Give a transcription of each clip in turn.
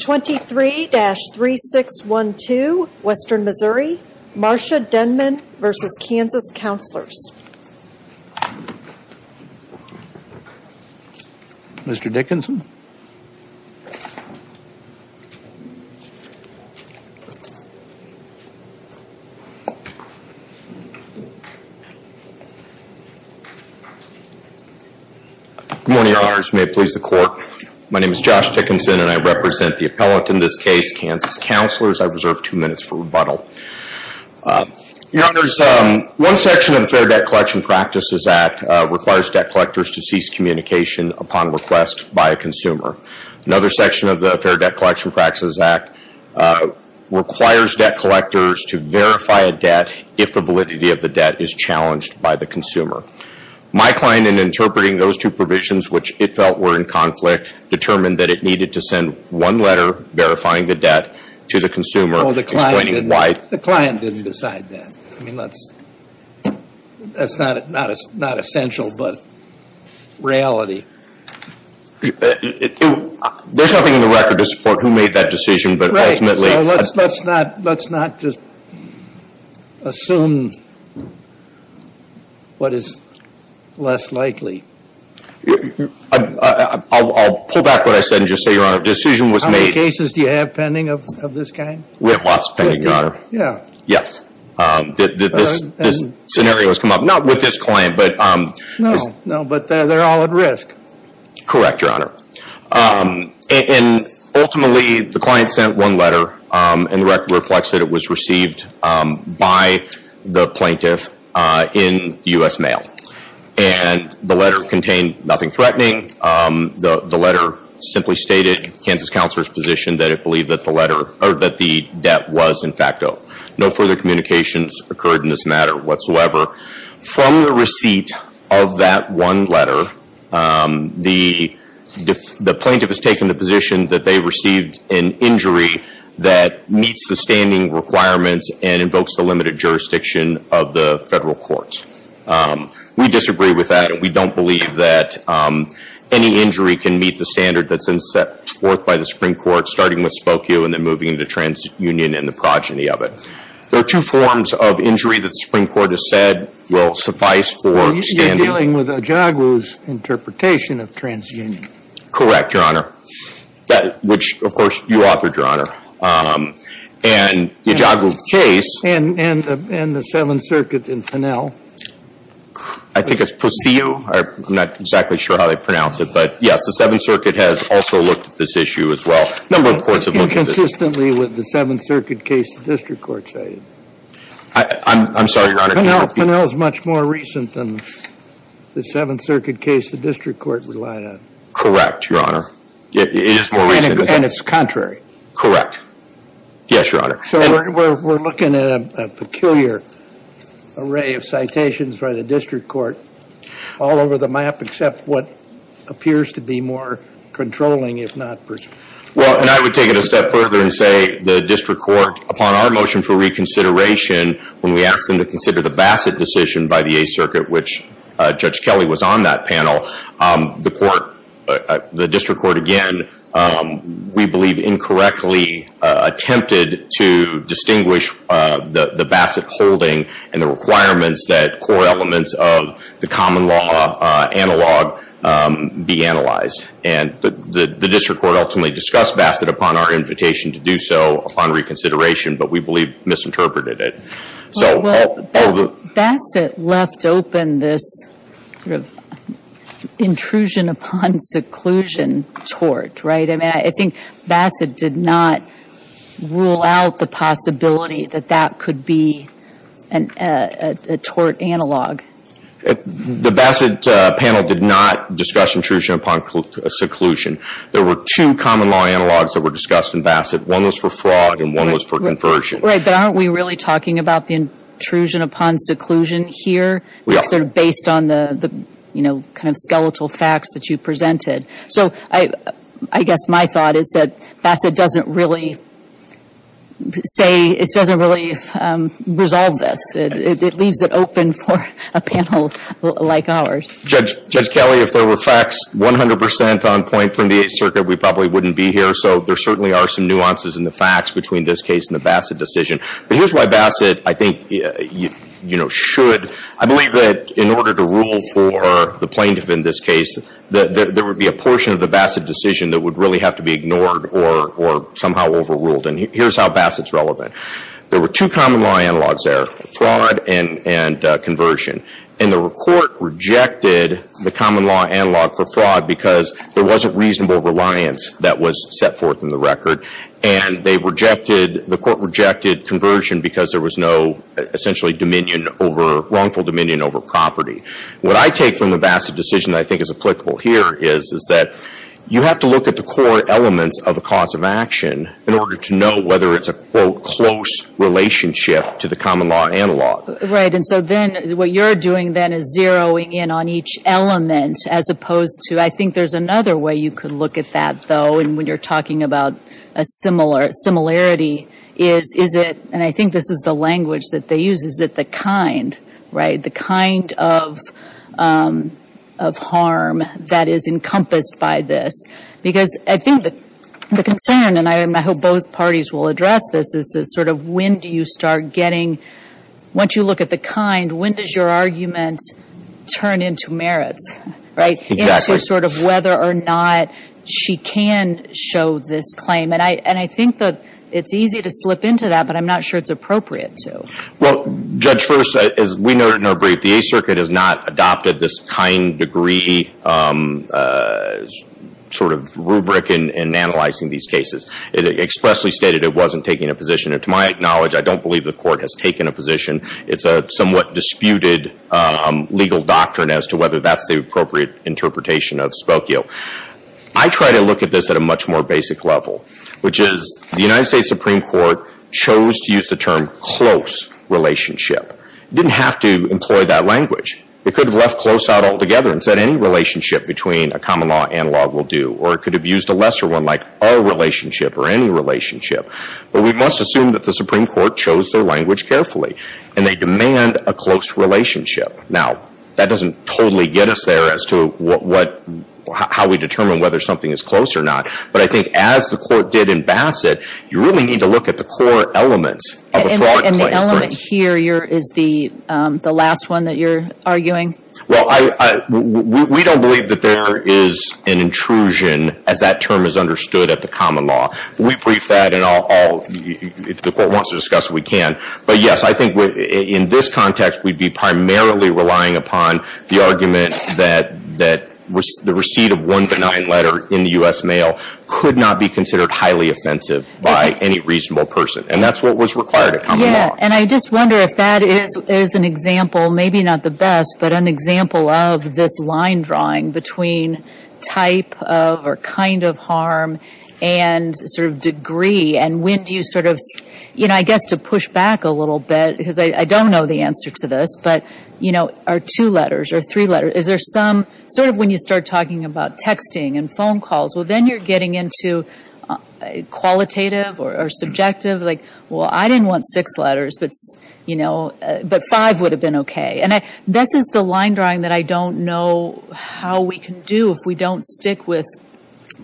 23-3612, Western Missouri, Marcia Denmon v. Kansas Counselors, Inc. Mr. Dickinson? Good morning, Your Honors. May it please the Court, my name is Josh Dickinson and I represent the appellant in this case, Kansas Counselors. I reserve two minutes for rebuttal. Your Honors, one section of the Fair Debt Collection Practices Act requires debt collectors to cease communication upon request by a consumer. Another section of the Fair Debt Collection Practices Act requires debt collectors to verify a debt if the validity of the debt is challenged by the consumer. My client, in interpreting those two provisions which it felt were in conflict, determined that it needed to send one letter verifying the debt to the consumer explaining why. Well, the client didn't decide that. I mean, that's not essential, but reality. There's nothing in the record to support who made that decision, but ultimately. Well, let's not just assume what is less likely. I'll pull back what I said and just say, Your Honor, a decision was made. How many cases do you have pending of this kind? We have lots pending, Your Honor. Yeah. Yes. This scenario has come up, not with this client, but. No, no, but they're all at risk. Correct, Your Honor. And ultimately, the client sent one letter and the record reflects that it was received by the plaintiff in U.S. mail. And the letter contained nothing threatening. The letter simply stated Kansas Counselor's position that it believed that the debt was in facto. No further communications occurred in this matter whatsoever. From the receipt of that one letter, the plaintiff has taken the position that they received an injury that meets the standing requirements and invokes the limited jurisdiction of the federal courts. We disagree with that, and we don't believe that any injury can meet the standard that's been set forth by the Supreme Court, starting with Spokue and then moving into TransUnion and the progeny of it. There are two forms of injury that the Supreme Court has said will suffice for standing. You're dealing with Ijaguirre's interpretation of TransUnion. Correct, Your Honor. Which, of course, you authored, Your Honor. And Ijaguirre's case. And the Seventh Circuit in Finnell. I think it's Posseu. I'm not exactly sure how they pronounce it, but yes, the Seventh Circuit has also looked at this issue as well. A number of courts have looked at it. Consistently with the Seventh Circuit case the district court cited. I'm sorry, Your Honor. Finnell is much more recent than the Seventh Circuit case the district court relied on. Correct, Your Honor. It is more recent. And it's contrary. Correct. Yes, Your Honor. So we're looking at a peculiar array of citations by the district court all over the map, except what appears to be more controlling, if not persuasive. Well, and I would take it a step further and say the district court, upon our motion for reconsideration, when we asked them to consider the Bassett decision by the Eighth Circuit, which Judge Kelly was on that panel, the court, the district court, again, we believe incorrectly attempted to distinguish the Bassett holding and the requirements that core elements of the common law analog be analyzed. And the district court ultimately discussed Bassett upon our invitation to do so upon reconsideration, but we believe misinterpreted it. Well, Bassett left open this sort of intrusion upon seclusion tort, right? I mean, I think Bassett did not rule out the possibility that that could be a tort analog. The Bassett panel did not discuss intrusion upon seclusion. There were two common law analogs that were discussed in Bassett. One was for fraud and one was for conversion. Right, but aren't we really talking about the intrusion upon seclusion here? We are. Sort of based on the, you know, kind of skeletal facts that you presented. So I guess my thought is that Bassett doesn't really say, it doesn't really resolve this. It leaves it open for a panel like ours. Judge Kelly, if there were facts 100% on point from the Eighth Circuit, we probably wouldn't be here. So there certainly are some nuances in the facts between this case and the Bassett decision. But here's why Bassett, I think, you know, should. I believe that in order to rule for the plaintiff in this case, there would be a portion of the Bassett decision that would really have to be ignored or somehow overruled. And here's how Bassett's relevant. There were two common law analogs there, fraud and conversion. And the Court rejected the common law analog for fraud because there wasn't reasonable reliance that was set forth in the record. And they rejected, the Court rejected conversion because there was no essentially dominion over, wrongful dominion over property. What I take from the Bassett decision that I think is applicable here is that you have to look at the core elements of a cause of action in order to know whether it's a, quote, close relationship to the common law analog. Right. And so then what you're doing then is zeroing in on each element as opposed to, I think there's another way you could look at that, though. And when you're talking about a similarity, is it, and I think this is the language that they use, is it the kind, right, the kind of harm that is encompassed by this? Because I think the concern, and I hope both parties will address this, is this sort of when do you start getting, once you look at the kind, when does your argument turn into merits, right? Exactly. Into sort of whether or not she can show this claim. And I think that it's easy to slip into that, but I'm not sure it's appropriate to. Well, Judge, first, as we noted in our brief, the Eighth Circuit has not adopted this kind degree sort of rubric in analyzing these cases. It expressly stated it wasn't taking a position. And to my knowledge, I don't believe the court has taken a position. It's a somewhat disputed legal doctrine as to whether that's the appropriate interpretation of Spokio. I try to look at this at a much more basic level, which is the United States Supreme Court chose to use the term close relationship. It didn't have to employ that language. It could have left close out altogether and said any relationship between a common law and law will do. Or it could have used a lesser one like our relationship or any relationship. But we must assume that the Supreme Court chose their language carefully. And they demand a close relationship. Now, that doesn't totally get us there as to how we determine whether something is close or not. But I think as the court did in Bassett, you really need to look at the core elements of a fraud claim. And the element here is the last one that you're arguing? Well, we don't believe that there is an intrusion as that term is understood at the common law. We brief that, and if the court wants to discuss it, we can. But, yes, I think in this context, we'd be primarily relying upon the argument that the receipt of one benign letter in the U.S. mail could not be considered highly offensive by any reasonable person. And that's what was required at common law. Yeah, and I just wonder if that is an example, maybe not the best, but an example of this line drawing between type of or kind of harm and sort of degree. And when do you sort of, you know, I guess to push back a little bit, because I don't know the answer to this, but, you know, are two letters or three letters? Is there some sort of when you start talking about texting and phone calls, well, then you're getting into qualitative or subjective. Like, well, I didn't want six letters, but, you know, but five would have been okay. And this is the line drawing that I don't know how we can do if we don't stick with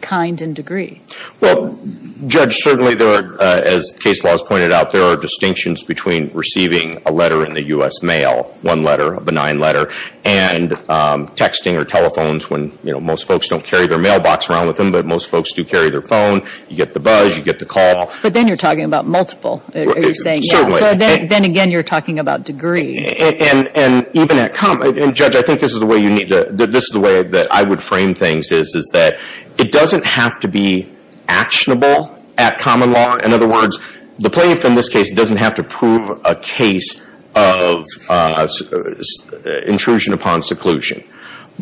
kind and degree. Well, Judge, certainly there are, as case laws pointed out, there are distinctions between receiving a letter in the U.S. mail, one letter, a benign letter, and texting or telephones when, you know, most folks don't carry their mailbox around with them, but most folks do carry their phone. You get the buzz. You get the call. But then you're talking about multiple. You're saying, yeah. So then again, you're talking about degree. And even at common, and Judge, I think this is the way you need to, this is the way that I would frame things is that it doesn't have to be actionable at common law. In other words, the plaintiff in this case doesn't have to prove a case of intrusion upon seclusion.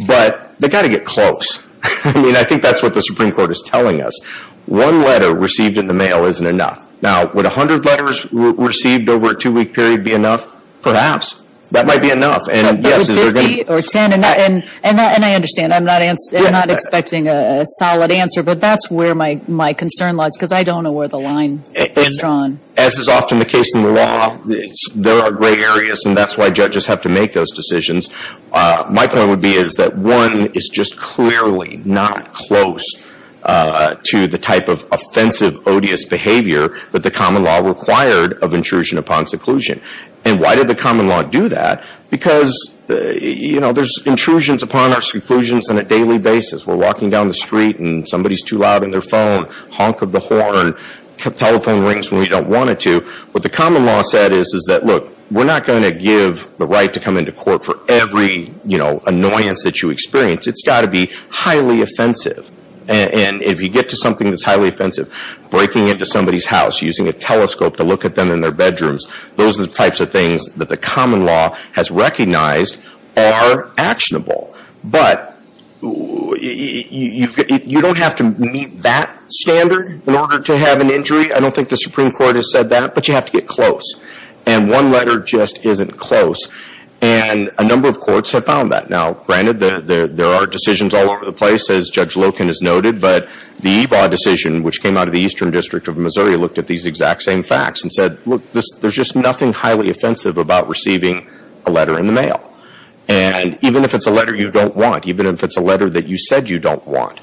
But they've got to get close. I mean, I think that's what the Supreme Court is telling us. One letter received in the mail isn't enough. Now, would 100 letters received over a two-week period be enough? Perhaps. That might be enough. But with 50 or 10, and I understand. I'm not expecting a solid answer. But that's where my concern lies, because I don't know where the line is drawn. As is often the case in the law, there are gray areas, and that's why judges have to make those decisions. My point would be is that one is just clearly not close to the type of offensive, odious behavior that the common law required of intrusion upon seclusion. And why did the common law do that? Because, you know, there's intrusions upon our seclusions on a daily basis. We're walking down the street, and somebody's too loud on their phone. Honk of the horn. Telephone rings when we don't want it to. What the common law said is that, look, we're not going to give the right to come into court for every, you know, annoyance that you experience. It's got to be highly offensive. And if you get to something that's highly offensive, breaking into somebody's house, using a telescope to look at them in their bedrooms, those are the types of things that the common law has recognized are actionable. But you don't have to meet that standard in order to have an injury. I don't think the Supreme Court has said that, but you have to get close. And one letter just isn't close. And a number of courts have found that. Now, granted, there are decisions all over the place, as Judge Loken has noted, but the EVA decision, which came out of the Eastern District of Missouri, looked at these exact same facts and said, look, there's just nothing highly offensive about receiving a letter in the mail. And even if it's a letter you don't want, even if it's a letter that you said you don't want,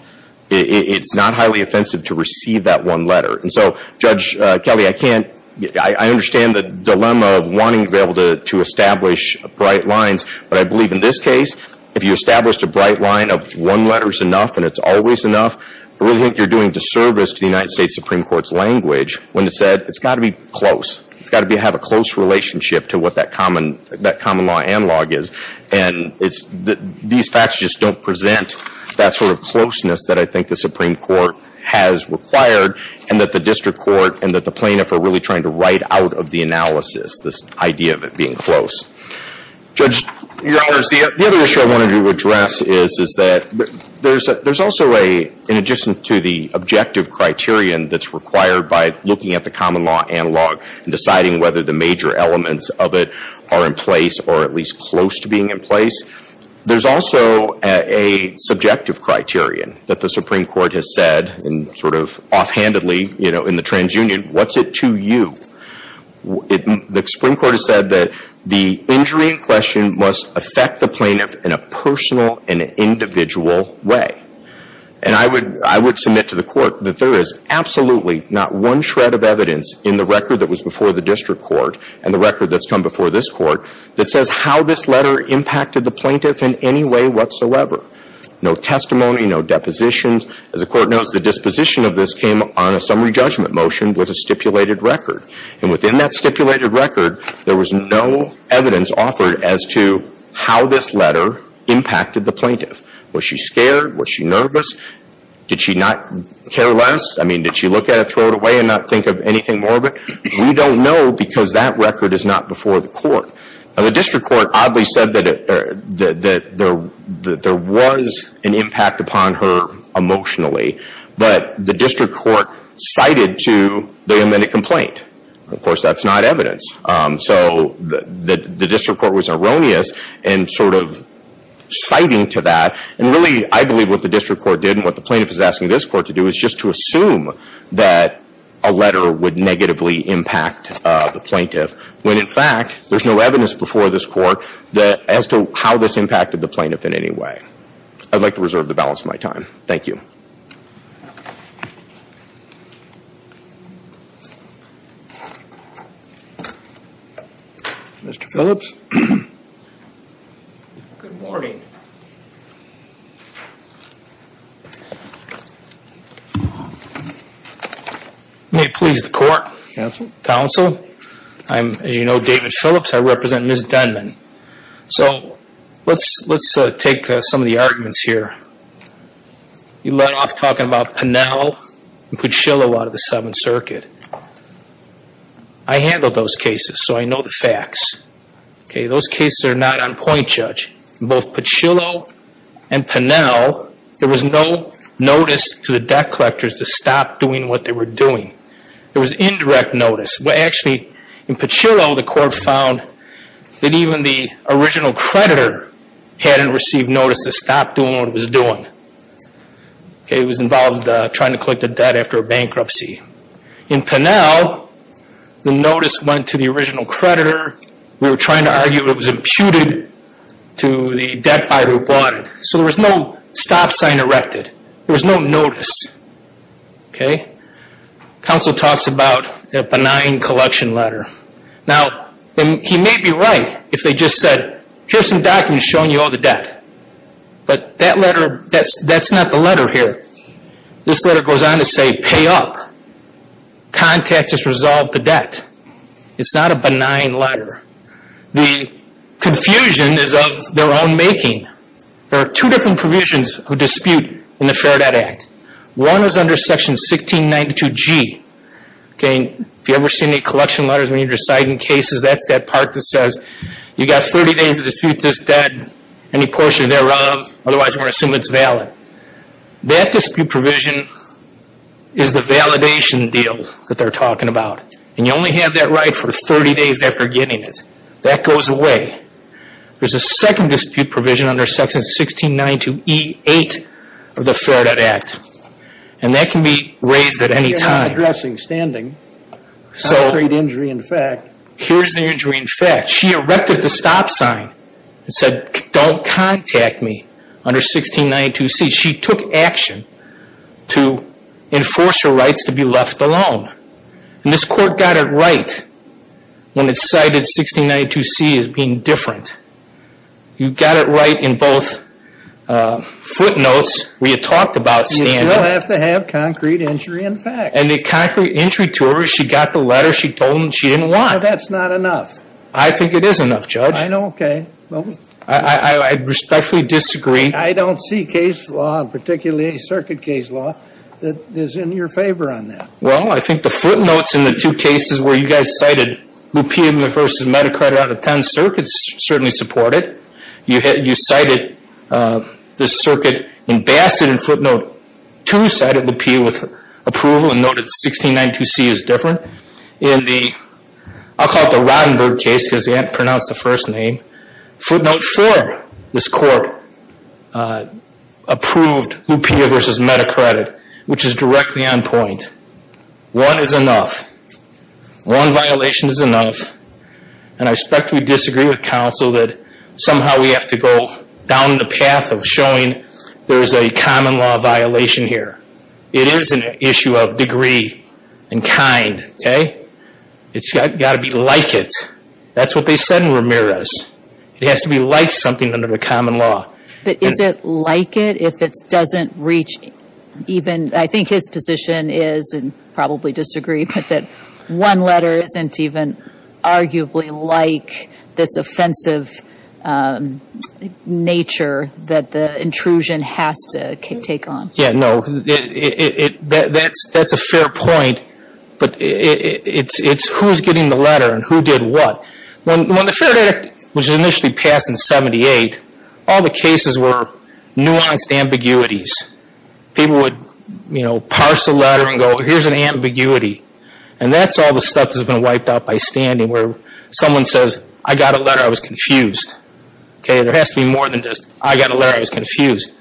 it's not highly offensive to receive that one letter. And so, Judge Kelly, I understand the dilemma of wanting to be able to establish bright lines, but I believe in this case, if you established a bright line of one letter is enough and it's always enough, I really think you're doing disservice to the United States Supreme Court's language when it said it's got to be close. It's got to have a close relationship to what that common law analog is. And these facts just don't present that sort of closeness that I think the Supreme Court has required and that the district court and that the plaintiff are really trying to write out of the analysis, this idea of it being close. Judge, Your Honors, the other issue I wanted to address is that there's also a, in addition to the objective criterion that's required by looking at the common law analog and deciding whether the major elements of it are in place or at least close to being in place, there's also a subjective criterion that the Supreme Court has said, and sort of offhandedly, you know, in the transunion, what's it to you? The Supreme Court has said that the injury in question must affect the plaintiff in a personal and individual way. And I would submit to the court that there is absolutely not one shred of evidence in the record that was before the district court and the record that's come before this court that says how this letter impacted the plaintiff in any way whatsoever. No testimony, no depositions. As the court knows, the disposition of this came on a summary judgment motion with a stipulated record. And within that stipulated record, there was no evidence offered as to how this letter impacted the plaintiff. Was she scared? Was she nervous? Did she not care less? I mean, did she look at it, throw it away, and not think of anything more of it? We don't know because that record is not before the court. Now, the district court oddly said that there was an impact upon her emotionally. But the district court cited to the amended complaint. Of course, that's not evidence. So the district court was erroneous in sort of citing to that. And really, I believe what the district court did and what the plaintiff is asking this court to do is just to assume that a letter would negatively impact the plaintiff when, in fact, there's no evidence before this court as to how this impacted the plaintiff in any way. I'd like to reserve the balance of my time. Thank you. Mr. Phillips? Good morning. May it please the court. Counsel. I'm, as you know, David Phillips. I represent Ms. Denman. So let's take some of the arguments here. You led off talking about Pinnell and Pachillo out of the Seventh Circuit. I handled those cases, so I know the facts. Those cases are not on point, Judge. Both Pachillo and Pinnell, there was no notice to the debt collectors to stop doing what they were doing. There was indirect notice. Actually, in Pachillo, the court found that even the original creditor hadn't received notice to stop doing what it was doing. It was involved trying to collect the debt after a bankruptcy. In Pinnell, the notice went to the original creditor. We were trying to argue it was imputed to the debt buyer who bought it. So there was no stop sign erected. There was no notice. Counsel talks about a benign collection letter. Now, he may be right if they just said, here are some documents showing you all the debt. But that's not the letter here. This letter goes on to say, pay up. Contact has resolved the debt. It's not a benign letter. The confusion is of their own making. There are two different provisions of dispute in the Fair Debt Act. One is under Section 1692G. If you've ever seen any collection letters when you're deciding cases, that's that part that says, you've got 30 days to dispute this debt, any portion thereof. Otherwise, we're going to assume it's valid. That dispute provision is the validation deal that they're talking about. And you only have that right for 30 days after getting it. That goes away. There's a second dispute provision under Section 1692E8 of the Fair Debt Act. And that can be raised at any time. So here's the injury in fact. She erected the stop sign and said, don't contact me under 1692C. She took action to enforce her rights to be left alone. And this court got it right when it cited 1692C as being different. You got it right in both footnotes where you talked about standing. You still have to have concrete injury in fact. And the concrete injury to her is she got the letter, she told him she didn't want. Well, that's not enough. I think it is enough, Judge. I know, okay. I respectfully disagree. I don't see case law, particularly circuit case law, that is in your favor on that. Well, I think the footnotes in the two cases where you guys cited Lupia versus Meda Credit out of 10 circuits certainly support it. You cited this circuit in Bassett in footnote 2, cited Lupia with approval and noted 1692C is different. In the, I'll call it the Rottenberg case because they didn't pronounce the first name, but footnote 4, this court approved Lupia versus Meda Credit, which is directly on point. One is enough. One violation is enough. And I respectfully disagree with counsel that somehow we have to go down the path of showing there is a common law violation here. It is an issue of degree and kind, okay. It's got to be like it. That's what they said in Ramirez. It has to be like something under the common law. But is it like it if it doesn't reach even, I think his position is, and probably disagree, but that one letter isn't even arguably like this offensive nature that the intrusion has to take on. Yeah, no, that's a fair point. But it's who is getting the letter and who did what. When the Fair Credit Act was initially passed in 1978, all the cases were nuanced ambiguities. People would, you know, parse a letter and go, here's an ambiguity. And that's all the stuff that's been wiped out by standing where someone says, I got a letter, I was confused. Okay, there has to be more than just, I got a letter, I was confused.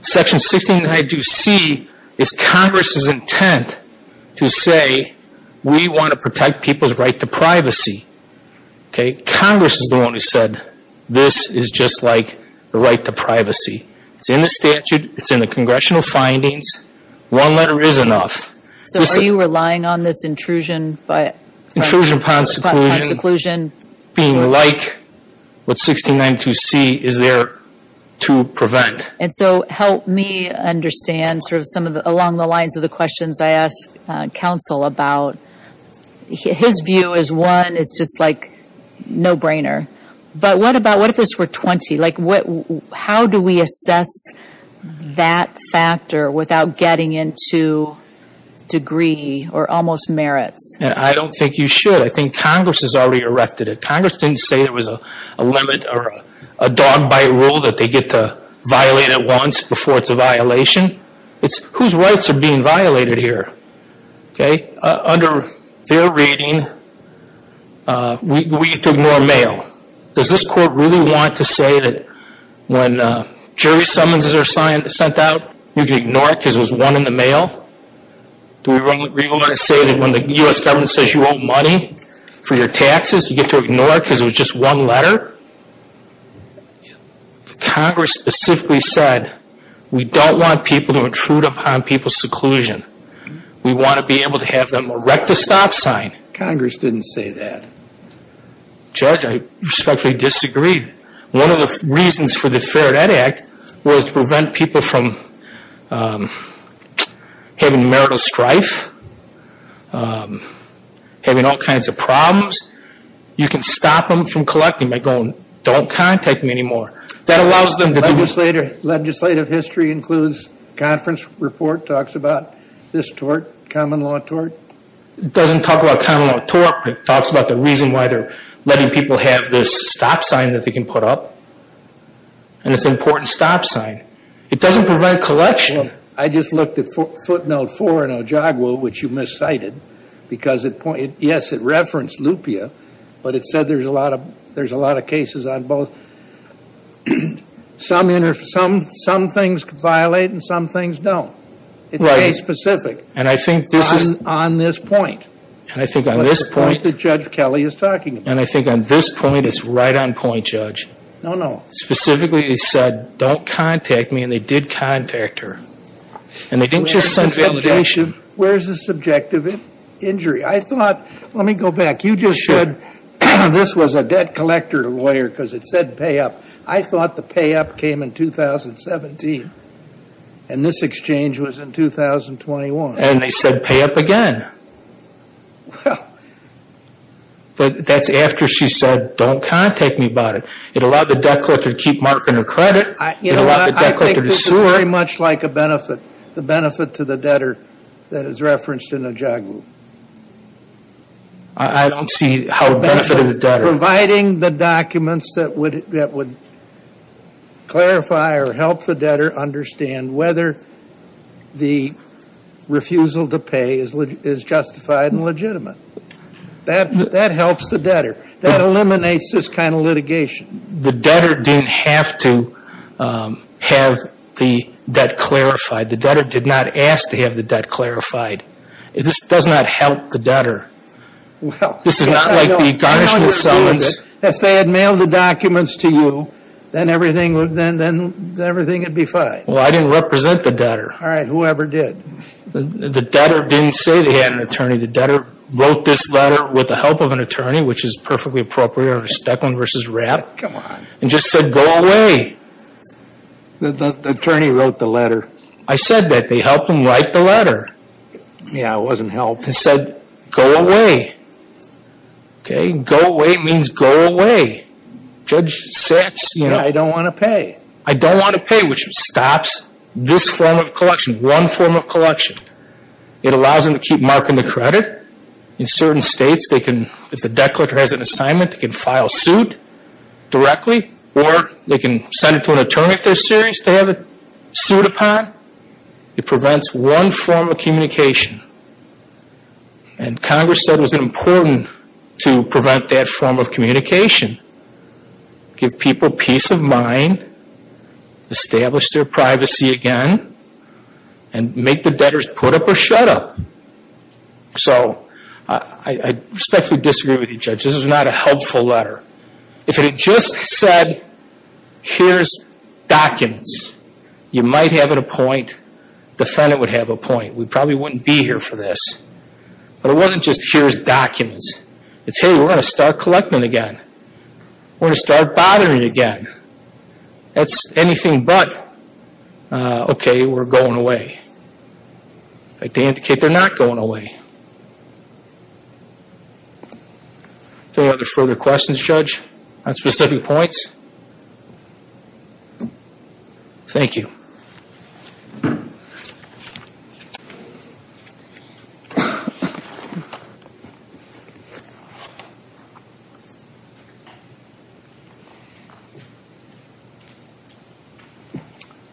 Section 1692C is Congress's intent to say we want to protect people's right to privacy. Okay, Congress is the one who said this is just like the right to privacy. It's in the statute. It's in the congressional findings. One letter is enough. So are you relying on this intrusion? Intrusion upon seclusion being like what 1692C is there to prevent. And so help me understand sort of along the lines of the questions I asked counsel about. His view is, one, it's just like no-brainer. But what if this were 20? Like how do we assess that factor without getting into degree or almost merits? I don't think you should. I think Congress has already erected it. Congress didn't say there was a limit or a dog bite rule that they get to violate at once before it's a violation. Whose rights are being violated here? Okay, under their reading, we get to ignore mail. Does this court really want to say that when jury summonses are sent out, you can ignore it because there was one in the mail? Do we really want to say that when the U.S. government says you owe money for your taxes, you get to ignore it because it was just one letter? Congress specifically said, we don't want people to intrude upon people's seclusion. We want to be able to have them erect a stop sign. Congress didn't say that. Judge, I respectfully disagree. One of the reasons for the Fair Debt Act was to prevent people from having marital strife, having all kinds of problems. You can stop them from collecting by going, don't contact me anymore. Legislative history includes conference report talks about this tort, common law tort. It doesn't talk about common law tort, but it talks about the reason why they're letting people have this stop sign that they can put up. And it's an important stop sign. It doesn't prevent collection. I just looked at footnote four in Ojigwa, which you miscited, because, yes, it referenced lupia, but it said there's a lot of cases on both. Some things violate and some things don't. It's very specific. And I think this is. On this point. And I think on this point. On the point that Judge Kelly is talking about. And I think on this point it's right on point, Judge. No, no. Specifically it said, don't contact me, and they did contact her. And they didn't just send validation. Where's the subjective injury? I thought, let me go back. You just said this was a debt collector lawyer because it said pay up. I thought the pay up came in 2017. And this exchange was in 2021. And they said pay up again. Well. But that's after she said, don't contact me about it. It allowed the debt collector to keep marking her credit. It allowed the debt collector to sue her. I think this is very much like a benefit. The benefit to the debtor that is referenced in Ojigwa. I don't see how a benefit to the debtor. Providing the documents that would clarify or help the debtor understand whether the refusal to pay is justified and legitimate. That helps the debtor. That eliminates this kind of litigation. The debtor didn't have to have the debt clarified. The debtor did not ask to have the debt clarified. This does not help the debtor. This is not like the garnishments. If they had mailed the documents to you, then everything would be fine. Well, I didn't represent the debtor. All right. Whoever did. The debtor didn't say they had an attorney. The debtor wrote this letter with the help of an attorney, which is perfectly appropriate. Steckland versus Rapp. Come on. And just said, go away. The attorney wrote the letter. I said that. They helped him write the letter. Yeah, it wasn't help. And said, go away. Okay. Go away means go away. Judge Sacks, you know. Yeah, I don't want to pay. I don't want to pay, which stops this form of collection. One form of collection. It allows them to keep marking the credit. In certain states, if the debt collector has an assignment, they can file suit directly. Or they can send it to an attorney if they're serious to have it sued upon. It prevents one form of communication. And Congress said it was important to prevent that form of communication. Give people peace of mind. Establish their privacy again. And make the debtors put up or shut up. So, I respectfully disagree with you, Judge. This is not a helpful letter. If it had just said, here's documents. You might have it a point. Defendant would have a point. We probably wouldn't be here for this. But it wasn't just, here's documents. It's, hey, we're going to start collecting again. We're going to start bothering again. That's anything but, okay, we're going away. They indicate they're not going away. Any other further questions, Judge, on specific points? Thank you.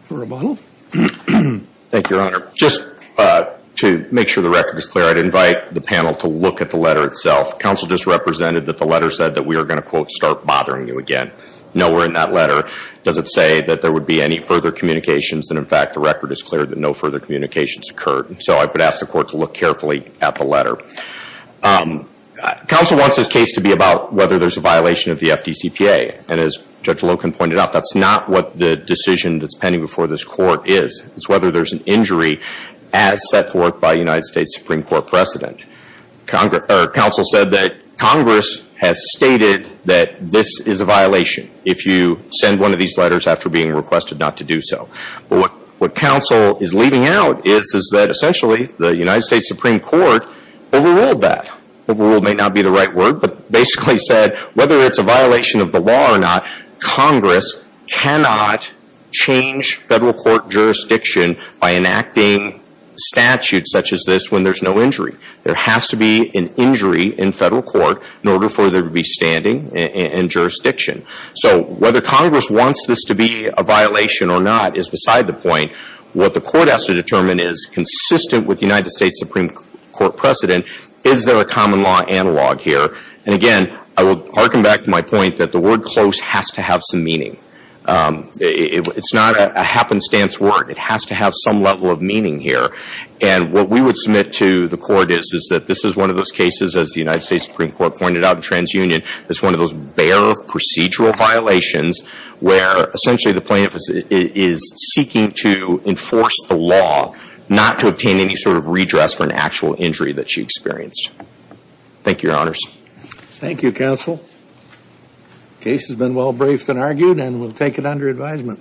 Rebuttal. Thank you, Your Honor. Just to make sure the record is clear, I'd invite the panel to look at the letter itself. Counsel just represented that the letter said that we are going to, quote, start bothering you again. Nowhere in that letter does it say that there would be any further communications. And, in fact, the record is clear that no further communications occurred. So I would ask the court to look carefully at the letter. Counsel wants this case to be about whether there's a violation of the FDCPA. And as Judge Loken pointed out, that's not what the decision that's pending before this court is. It's whether there's an injury as set forth by a United States Supreme Court precedent. Counsel said that Congress has stated that this is a violation, if you send one of these letters after being requested not to do so. What counsel is leaving out is that, essentially, the United States Supreme Court overruled that. Overruled may not be the right word, but basically said whether it's a violation of the law or not, Congress cannot change federal court jurisdiction by enacting statutes such as this when there's no injury. There has to be an injury in federal court in order for there to be standing in jurisdiction. So whether Congress wants this to be a violation or not is beside the point. What the court has to determine is, consistent with the United States Supreme Court precedent, is there a common law analog here? And again, I will harken back to my point that the word close has to have some meaning. It's not a happenstance word. It has to have some level of meaning here. And what we would submit to the court is that this is one of those cases, as the United States Supreme Court pointed out in TransUnion, that's one of those bare procedural violations where, essentially, the plaintiff is seeking to enforce the law, not to obtain any sort of redress for an actual injury that she experienced. Thank you, Your Honors. Thank you, Counsel. The case has been well briefed and argued, and we'll take it under advisement.